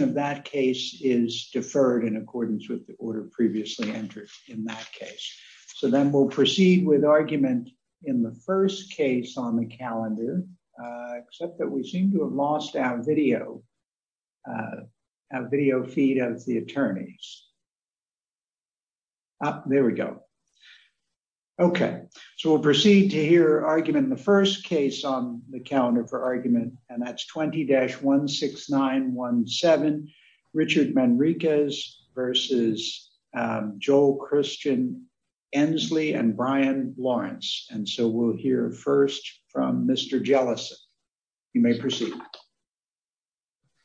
of that case is deferred in accordance with the order previously entered in that case. So then we'll proceed with argument in the first case on the calendar, except that we seem to have lost our video, our video feed of the attorneys. There we go. Okay, so we'll proceed to hear argument in the first case on the calendar for argument, and that's 20-16917, Richard Manriquez versus Joel Christian Ensley and Brian Lawrence. And so we'll hear first from Mr. Jellison. You may proceed.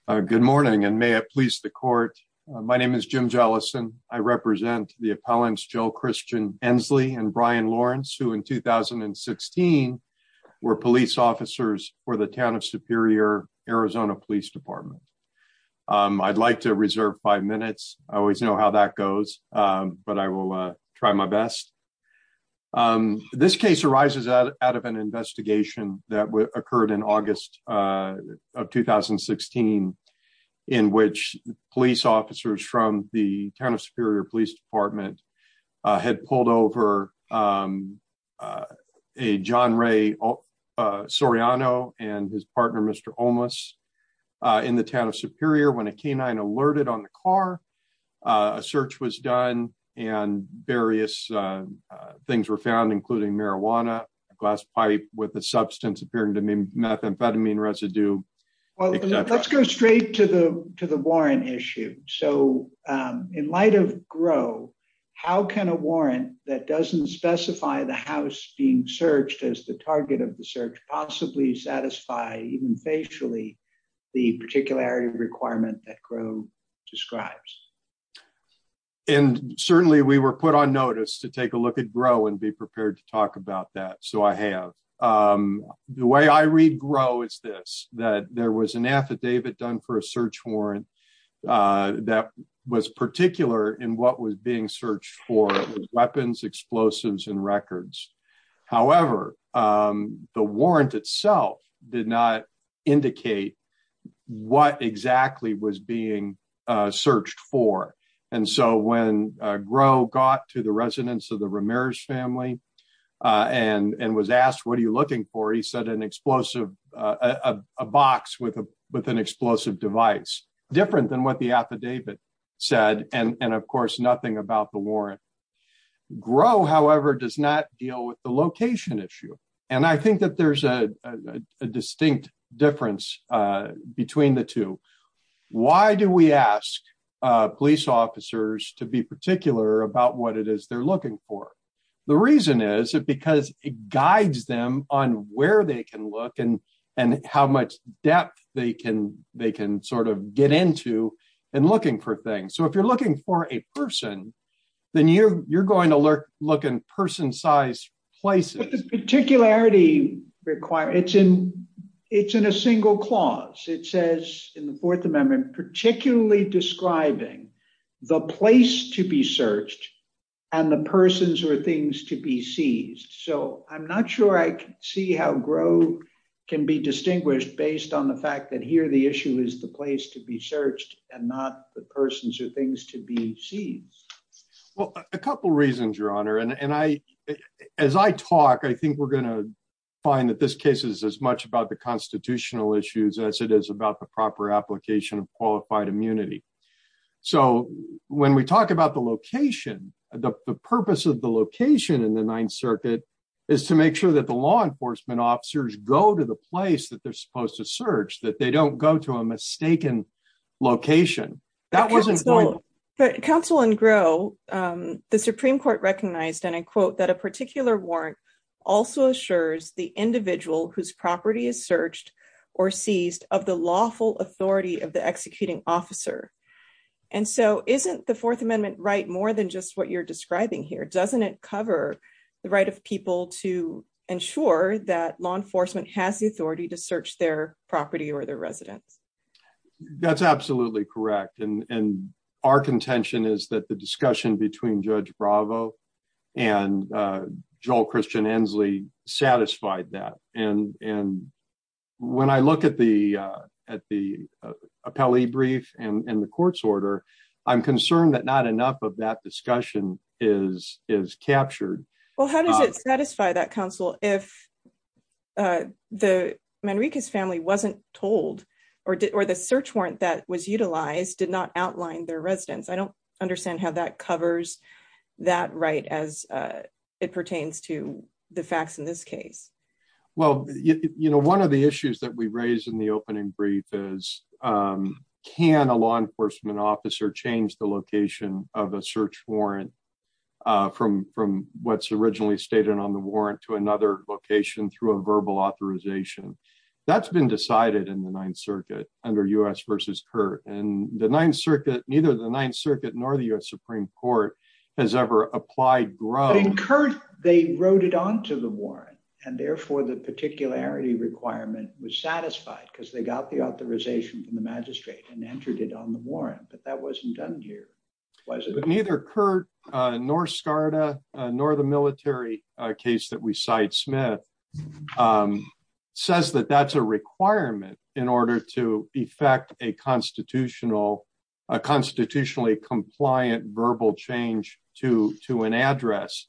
Good morning, and may it please the court. My name is Jim Jellison. I represent the Town of Superior, Arizona Police Department. I'd like to reserve five minutes. I always know how that goes, but I will try my best. This case arises out of an investigation that occurred in August of 2016, in which police officers from the Town of Superior Police Department had pulled over a John Ray Soriano and his partner Mr. Olmos in the Town of Superior when a canine alerted on the car. A search was done and various things were found, including marijuana, a glass pipe with a substance appearing to be methamphetamine residue. Well, let's go straight to the to the GRO. How can a warrant that doesn't specify the house being searched as the target of the search possibly satisfy even facially the particularity requirement that GRO describes? And certainly we were put on notice to take a look at GRO and be prepared to talk about that, so I have. The way I read GRO is this, that there was an affidavit done for a search warrant that was particular in what was being searched for weapons, explosives, and records. However, the warrant itself did not indicate what exactly was being searched for, and so when GRO got to the residence of the Ramirez family and was asked, what are you looking for? He said an explosive, a box with a with an explosive device, different than what the affidavit said, and of course, nothing about the warrant. GRO, however, does not deal with the location issue, and I think that there's a distinct difference between the two. Why do we ask police officers to be particular about what it is they're looking for? The reason is because it guides them on where they can look and how much depth they can sort of get into in looking for things. So, if you're looking for a person, then you're going to look in person-sized places. But this particularity requirement, it's in a single clause. It says in the Fourth Amendment, particularly describing the place to be searched and the persons or things to be seized. So, I'm not sure I can see how GRO can be distinguished based on the fact that here the issue is the place to be searched and not the persons or things to be seized. Well, a couple reasons, Your Honor, and as I talk, I think we're going to find that this case is as much about the constitutional issues as it is about the proper application of qualified immunity. So, when we talk about the location, the purpose of the location in the Ninth Circuit is to make sure that the law enforcement officers go to the place that they're supposed to search, that they don't go to a mistaken location. Counsel in GRO, the Supreme Court recognized, and I quote, that a particular warrant also assures the individual whose property is searched or seized of the lawful authority of executing officer. And so, isn't the Fourth Amendment right more than just what you're describing here? Doesn't it cover the right of people to ensure that law enforcement has the authority to search their property or their residence? That's absolutely correct. And our contention is that the discussion between Judge Bravo and Joel Christian Inslee satisfied that. And when I look at the appellee brief and the court's order, I'm concerned that not enough of that discussion is captured. Well, how does it satisfy that, counsel, if the Manriquez family wasn't told or the search warrant that was utilized did not outline their residence? I don't understand how that covers that right as it pertains to the facts in this case. Well, you know, one of the issues that we raised in the opening brief is can a law enforcement officer change the location of a search warrant from what's originally stated on the warrant to another location through a verbal authorization? That's been decided in the Ninth Circuit under U.S. v. CURT. And the Ninth Circuit, neither the Ninth Circuit nor the U.S. Supreme Court has ever applied growth. But in CURT, they wrote it onto the warrant, and therefore the particularity requirement was satisfied because they got the authorization from the magistrate and entered it on the warrant. But that wasn't done here, was it? But neither CURT nor SCARDA nor the military case that we cite, Smith, says that that's a requirement in order to change to an address.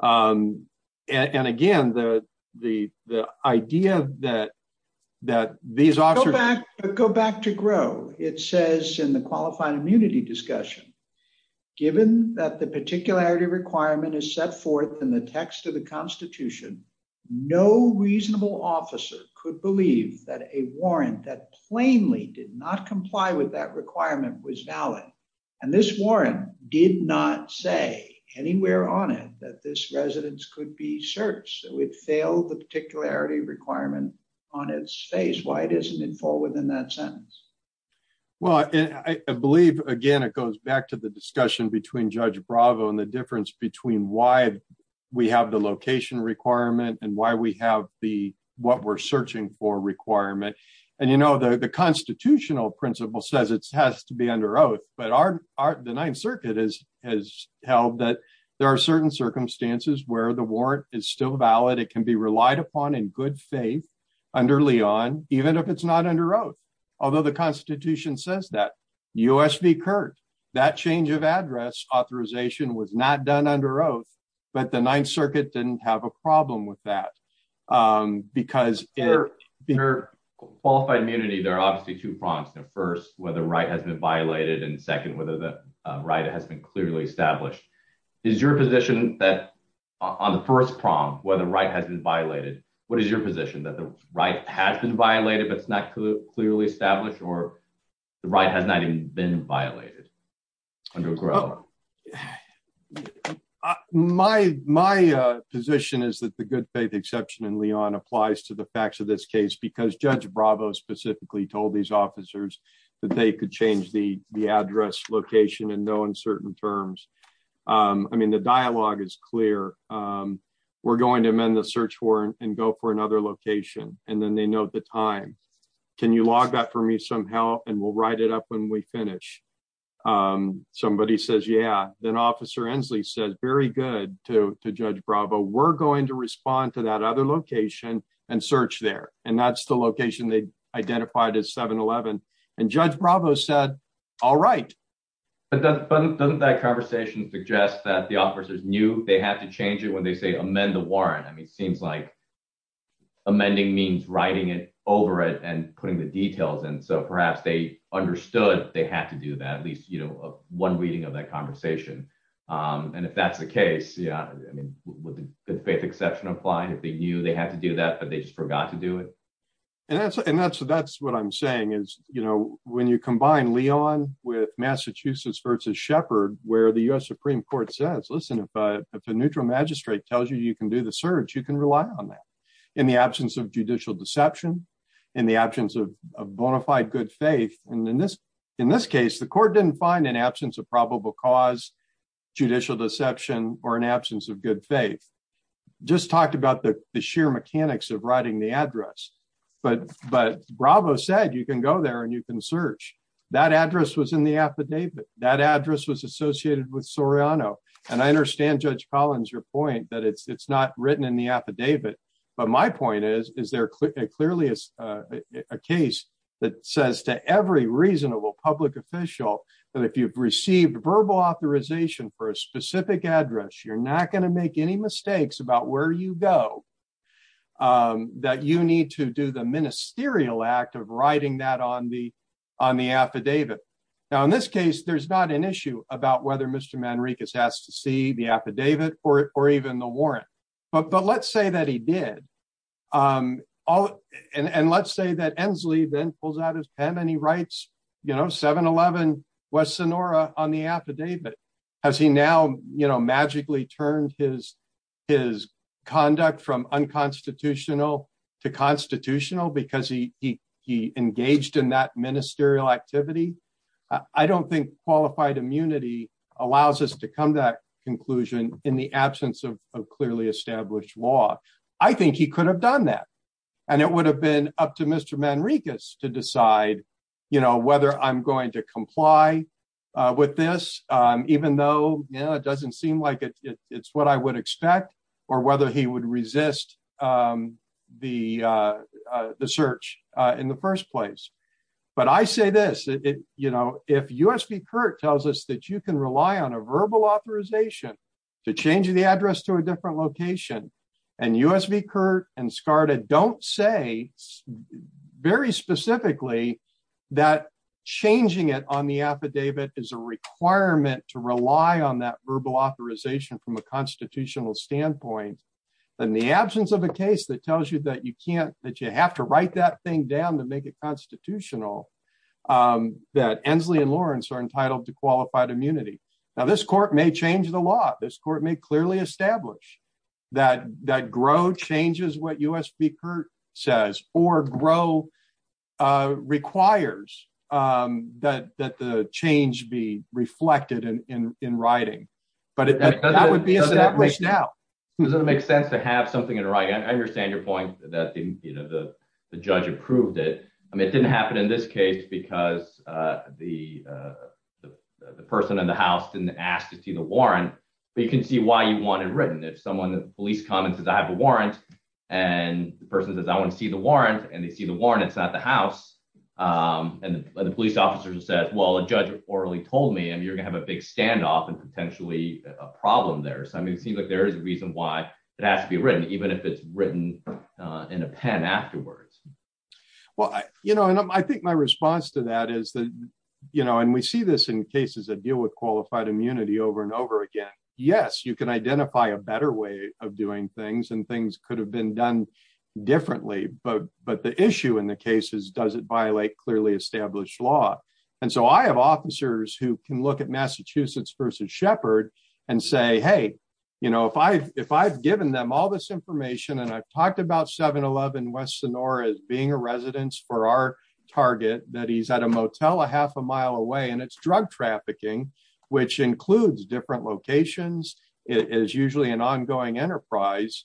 And again, the idea that these officers... Go back to GROW. It says in the qualifying immunity discussion, given that the particularity requirement is set forth in the text of the Constitution, no reasonable officer could believe that a warrant that plainly did not comply with that say anywhere on it that this residence could be searched. It would fail the particularity requirement on its face. Why doesn't it fall within that sentence? Well, I believe, again, it goes back to the discussion between Judge Bravo and the difference between why we have the location requirement and why we have the what we're searching for requirement. And, you know, the constitutional principle says it has to be under oath, but the Ninth Circuit has held that there are certain circumstances where the warrant is still valid. It can be relied upon in good faith under Leon, even if it's not under oath. Although the Constitution says that. U.S. v. CURT, that change of address authorization was not done under oath, but the Ninth Circuit didn't have a problem with that because... Qualified immunity, there are obviously two problems. The first, whether right has been violated. And second, whether the right has been clearly established. Is your position that on the first prong, whether right has been violated, what is your position that the right has been violated, but it's not clearly established or the right has not even been violated? My position is that the good faith exception in Leon applies to the facts of this case, because Judge Bravo specifically told these officers that they could change the address location in no uncertain terms. I mean, the dialogue is clear. We're going to amend the search warrant and go for another location. And then they know the time. Can you log that for me somehow? And we'll write it up when we finish. Somebody says, yeah. Then Officer Inslee says, very good to Judge Bravo. We're going to respond to that other location and search there. And that's the location they identified as 7-11. And Judge Bravo said, all right. But doesn't that conversation suggest that the officers knew they had to change it when they say amend the warrant? I mean, it seems like amending means writing it over it and putting the details. And so perhaps they understood they had to do that, at least one reading of that conversation. And if that's the case, yeah. I mean, would the good faith exception apply if they knew they had to do that, but they just forgot to do it? And that's what I'm saying, is when you combine Leon with Massachusetts versus Shepard, where the US Supreme Court says, listen, if a neutral magistrate tells you you can do the search, you can rely on that in the absence of judicial deception, in the absence of bona fide good faith. And in this case, the court didn't find an absence of probable cause, judicial deception, or an absence of good faith. Just talked about the sheer mechanics of writing the address. But Bravo said you can go there and you can search. That address was in the affidavit. That address was associated with Soriano. And I understand Judge Collins, your point that it's not written in the affidavit. But my point is, is there authorization for a specific address, you're not going to make any mistakes about where you go, that you need to do the ministerial act of writing that on the affidavit. Now, in this case, there's not an issue about whether Mr. Manriquez has to see the affidavit or even the warrant. But let's say that he did. And let's say that Ensley then pulls out his pen and he writes, you know, 7-11 West Sonora on the affidavit. Has he now magically turned his conduct from unconstitutional to constitutional because he engaged in that ministerial activity? I don't think qualified immunity allows us to come to that conclusion in the absence of clearly established law. I think he could have done that. And it would have been up to Mr. Manriquez to I'm going to comply with this, even though it doesn't seem like it's what I would expect, or whether he would resist the search in the first place. But I say this, you know, if U.S. v. Curt tells us that you can rely on a verbal authorization to change the address to a changing it on the affidavit is a requirement to rely on that verbal authorization from a constitutional standpoint, then the absence of a case that tells you that you can't that you have to write that thing down to make it constitutional, that Ensley and Lawrence are entitled to qualified immunity. Now, this court may change the law, this court may clearly establish that that grow changes what U.S. v. Curt says or grow requires that the change be reflected in writing, but that would be established now. Does it make sense to have something in writing? I understand your point that, you know, the judge approved it. I mean, it didn't happen in this case because the person in the house didn't ask to see the warrant, but you can see why you want it written if someone that police comment says I have a warrant, and the person says I want to see the warrant and they see the warrant, it's not the house. And the police officer says, well, a judge orally told me and you're gonna have a big standoff and potentially a problem there. So I mean, it seems like there is a reason why it has to be written, even if it's written in a pen afterwards. Well, you know, and I think my response to that is that, you know, and we see this in qualified immunity over and over again. Yes, you can identify a better way of doing things and things could have been done differently, but the issue in the case is does it violate clearly established law? And so I have officers who can look at Massachusetts v. Shepard and say, hey, you know, if I've given them all this information and I've talked about 7-Eleven West Sonora as being a residence for our target that he's at a motel a half a mile away and it's drug trafficking, which includes different locations, it is usually an ongoing enterprise,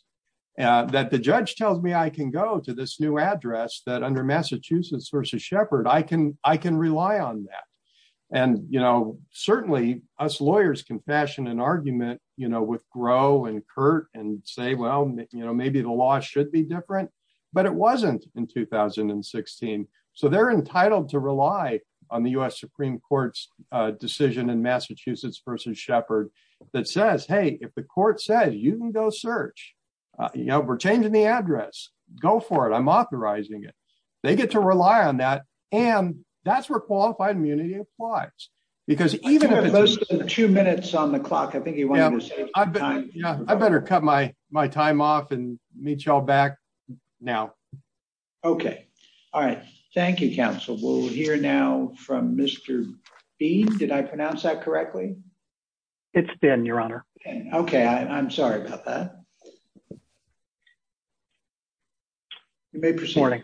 that the judge tells me I can go to this new address that under Massachusetts v. Shepard, I can rely on that. And, you know, certainly us lawyers can fashion an argument, you know, with Groh and Curt and say, well, you know, maybe the law should be different, but it wasn't in 2016. So they're entitled to rely on the U.S. Supreme Court's decision in Massachusetts v. Shepard that says, hey, if the court says you can go search, you know, we're changing the address, go for it, I'm authorizing it. They get to rely on that, and that's where qualified immunity applies, because two minutes on the clock, I think you want to save time. Yeah, I better cut my time off and meet y'all back now. Okay. All right. Thank you, counsel. We'll hear now from Mr. B. Did I pronounce that correctly? It's Ben, your honor. Okay. I'm sorry about that. You may proceed. Morning.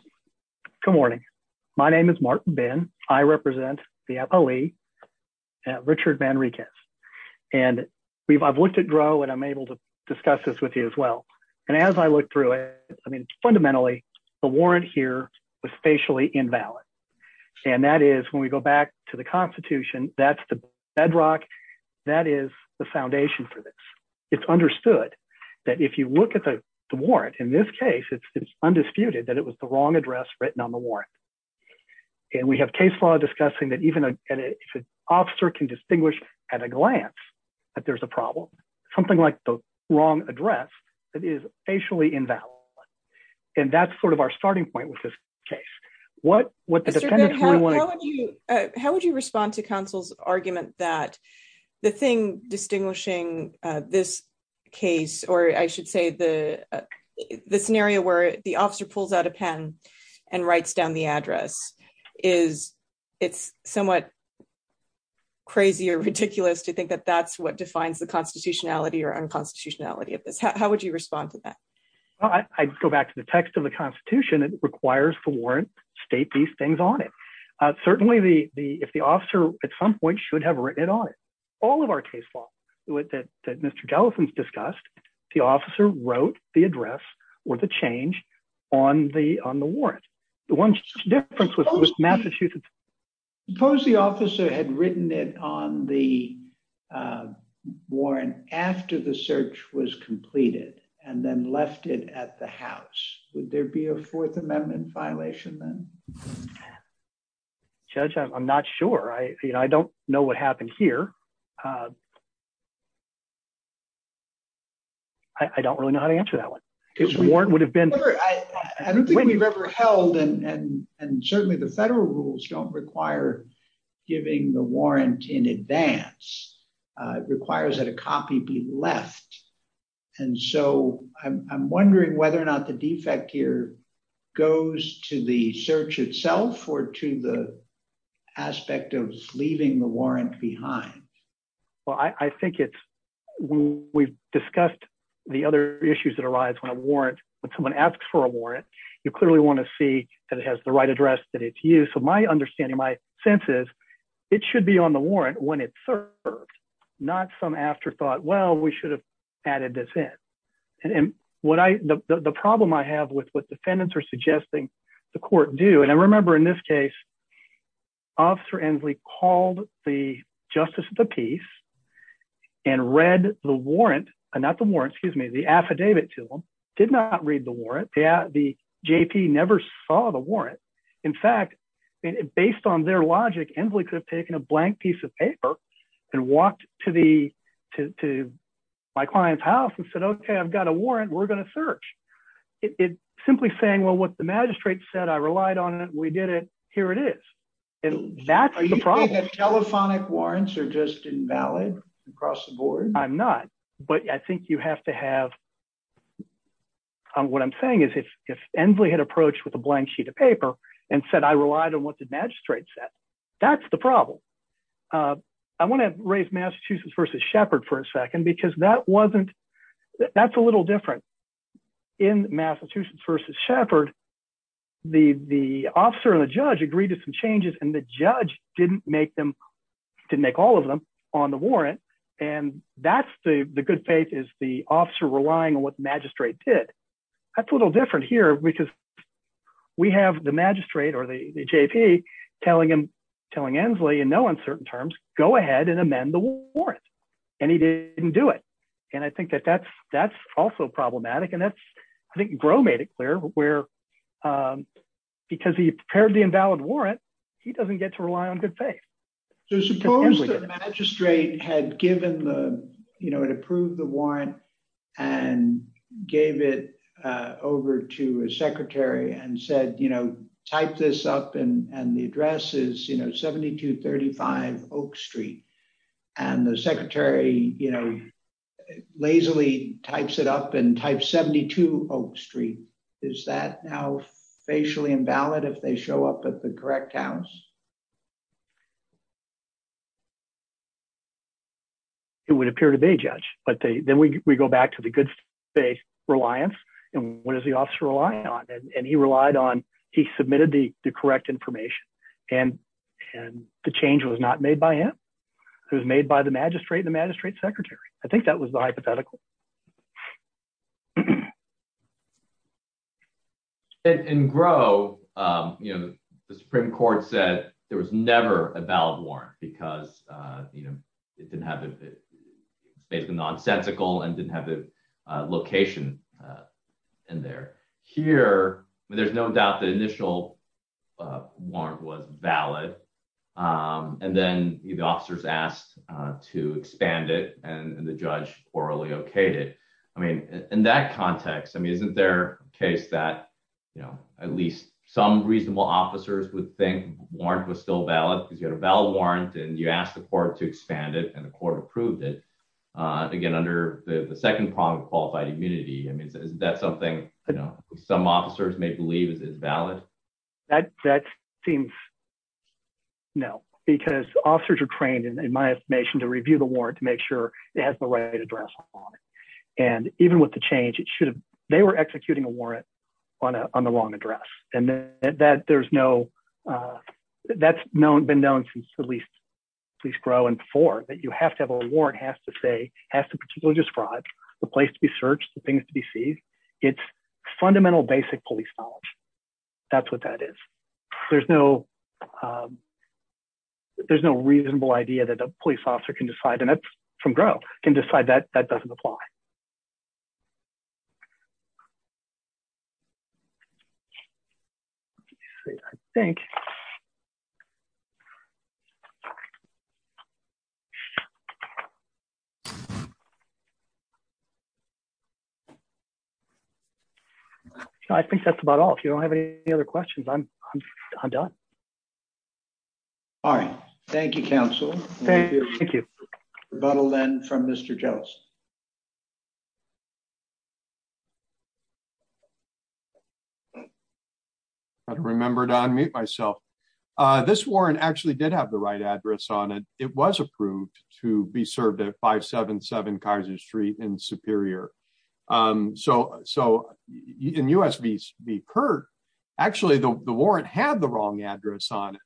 Good morning. My name is Martin Ben. I represent the FOE at Richard Manriquez. And I've looked at Groh, and I'm able to discuss this with you as well. And as I look through it, fundamentally, the warrant here was facially invalid. And that is, when we go back to the Constitution, that's the bedrock, that is the foundation for this. It's understood that if you look at the warrant, in this case, it's undisputed that it was the wrong address written on the warrant. And we have case law discussing that even if an officer can distinguish at a And that's sort of our starting point with this case. How would you respond to counsel's argument that the thing distinguishing this case, or I should say the scenario where the officer pulls out a pen and writes down the address, is it's somewhat crazy or ridiculous to think that that's what defines the constitutionality or unconstitutionality of this? How would you respond to that? I'd go back to the text of the Constitution. It requires the warrant state these things on it. Certainly, if the officer at some point should have written it on it, all of our case law that Mr. Jellison's discussed, the officer wrote the address or the change on the warrant. The one difference was Massachusetts. Suppose the officer had written it on the warrant after the search was completed, and then left it at the house. Would there be a Fourth Amendment violation then? Judge, I'm not sure. I don't know what happened here. I don't really know how to answer that one. I don't think we've ever held and certainly the federal rules don't require giving the warrant in advance. It requires that a copy be left. I'm wondering whether or not the defect here goes to the search itself or to the aspect of leaving the warrant behind. We've discussed the other issues that arise when someone asks for a warrant. You clearly want to that it has the right address that it's used. My understanding, my sense is it should be on the warrant when it's served, not some afterthought, well, we should have added this in. The problem I have with what defendants are suggesting the court do, and I remember in this case, Officer Ensley called the Justice of the Peace and read the warrant, not the warrant, the affidavit to them, did not read the warrant. The JP never saw the warrant. In fact, based on their logic, Ensley could have taken a blank piece of paper and walked to my client's house and said, okay, I've got a warrant, we're going to search. Simply saying, well, what the magistrate said, I relied on it, we did it, here it is. That's the problem. Are you saying that telephonic warrants are just invalid across the board? I'm not, but I think you have to have, what I'm saying is if Ensley had approached with a blank sheet of paper and said I relied on what the magistrate said, that's the problem. I want to raise Massachusetts v. Shepard for a second because that's a little different. In Massachusetts v. Shepard, the officer and the judge agreed to some changes and the judge didn't make them, didn't make all of them on the warrant and that's the good faith is the officer relying on what the magistrate did. That's a little different here because we have the magistrate or the JP telling him, telling Ensley in no uncertain terms, go ahead and amend the warrant and he didn't do it. I think that's also problematic and I think Gros made it clear because he prepared the invalid warrant, he doesn't get to rely on good faith. Suppose the magistrate had approved the warrant and gave it over to a secretary and said, type this up and the address is 7235 Oak Street and the secretary lazily types it up and types 72 Oak Street. Is that now facially invalid if they show up at the correct house? It would appear to be, Judge, but then we go back to the good faith reliance and what does the officer rely on and he relied on, he submitted the correct information and the change was not made by him. It was made by the magistrate and the magistrate secretary. I think that was the issue. In Gros, the Supreme Court said there was never a valid warrant because it's basically nonsensical and didn't have the location in there. Here, there's no doubt the initial warrant was valid and then the officers asked to expand it and the judge orally okayed it. In that context, isn't there a case that at least some reasonable officers would think the warrant was still valid because you had a valid warrant and you asked the court to expand it and the court approved it again under the second prong of qualified immunity. Isn't that something some officers may believe is valid? That seems no because officers are trained in my estimation to review the warrant to make sure it has the right address on it. Even with the change, they were executing a warrant on the wrong address and that's been known since at least Gros and before that you have to have a warrant that has to particularly describe the place to be searched, the things to be seen. It's fundamental basic police knowledge. That's what that is. There's no reasonable idea that a police officer can decide and that's from Gros, can decide that that doesn't apply. I think that's about all. If you don't have any other questions, I'm done. All right. Thank you, counsel. Thank you. Thank you. Rebuttal then from Mr. Jones. I don't remember to unmute myself. This warrant actually did have the right address on it. It was approved to be served at 577 Kaiser Street in Superior. In U.S. v. Curt, actually, the warrant had the wrong address on it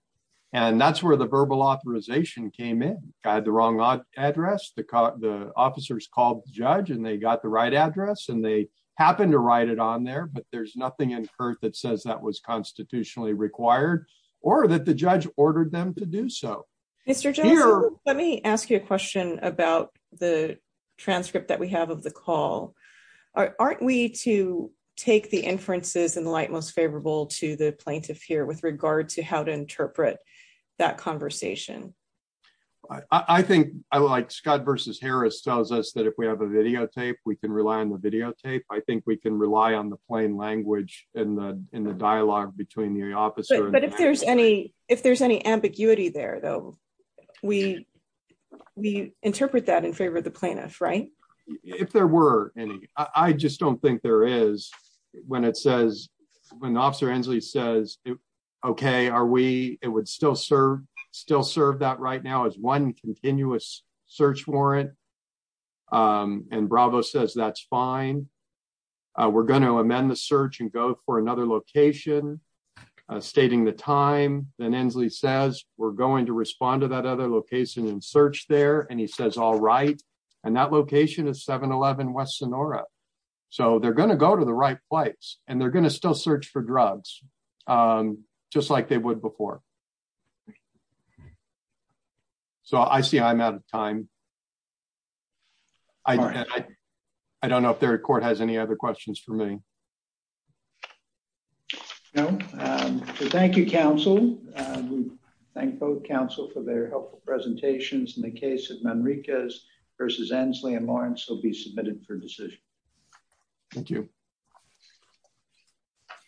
and that's where the verbal authorization came in. I had the wrong address. The officers called the judge and they got the right address and they happened to write it on there, but there's nothing in Curt that says that was constitutionally required or that the judge ordered them to do so. Mr. Jones, let me ask you a question about the transcript that we have of the call. Aren't we to take the inferences in the light most favorable to the plaintiff here with regard to how to interpret that conversation? I think like Scott v. Harris tells us that if we have a videotape, we can rely on the videotape. I think we can rely on the plain language in the dialogue between the officer and the plaintiff. If there's any ambiguity there, though, we interpret that in favor of the plaintiff, right? If there were any. I just don't think there is when it says, when Officer Inslee says, okay, it would still serve that right now as one continuous search warrant and Bravo says, that's fine. We're going to amend the search and go for another location, stating the time. Then Inslee says, we're going to respond to that other location and search there. And he says, all right. And that location is 711 West Sonora. So they're going to go to the right place and they're going to still search for drugs just like they would before. Okay. So I see I'm out of time. I don't know if the court has any other questions for me. No. Thank you, counsel. Thank both counsel for their helpful presentations in the case of Manriquez versus Inslee and Lawrence will be submitted for decision. Thank you.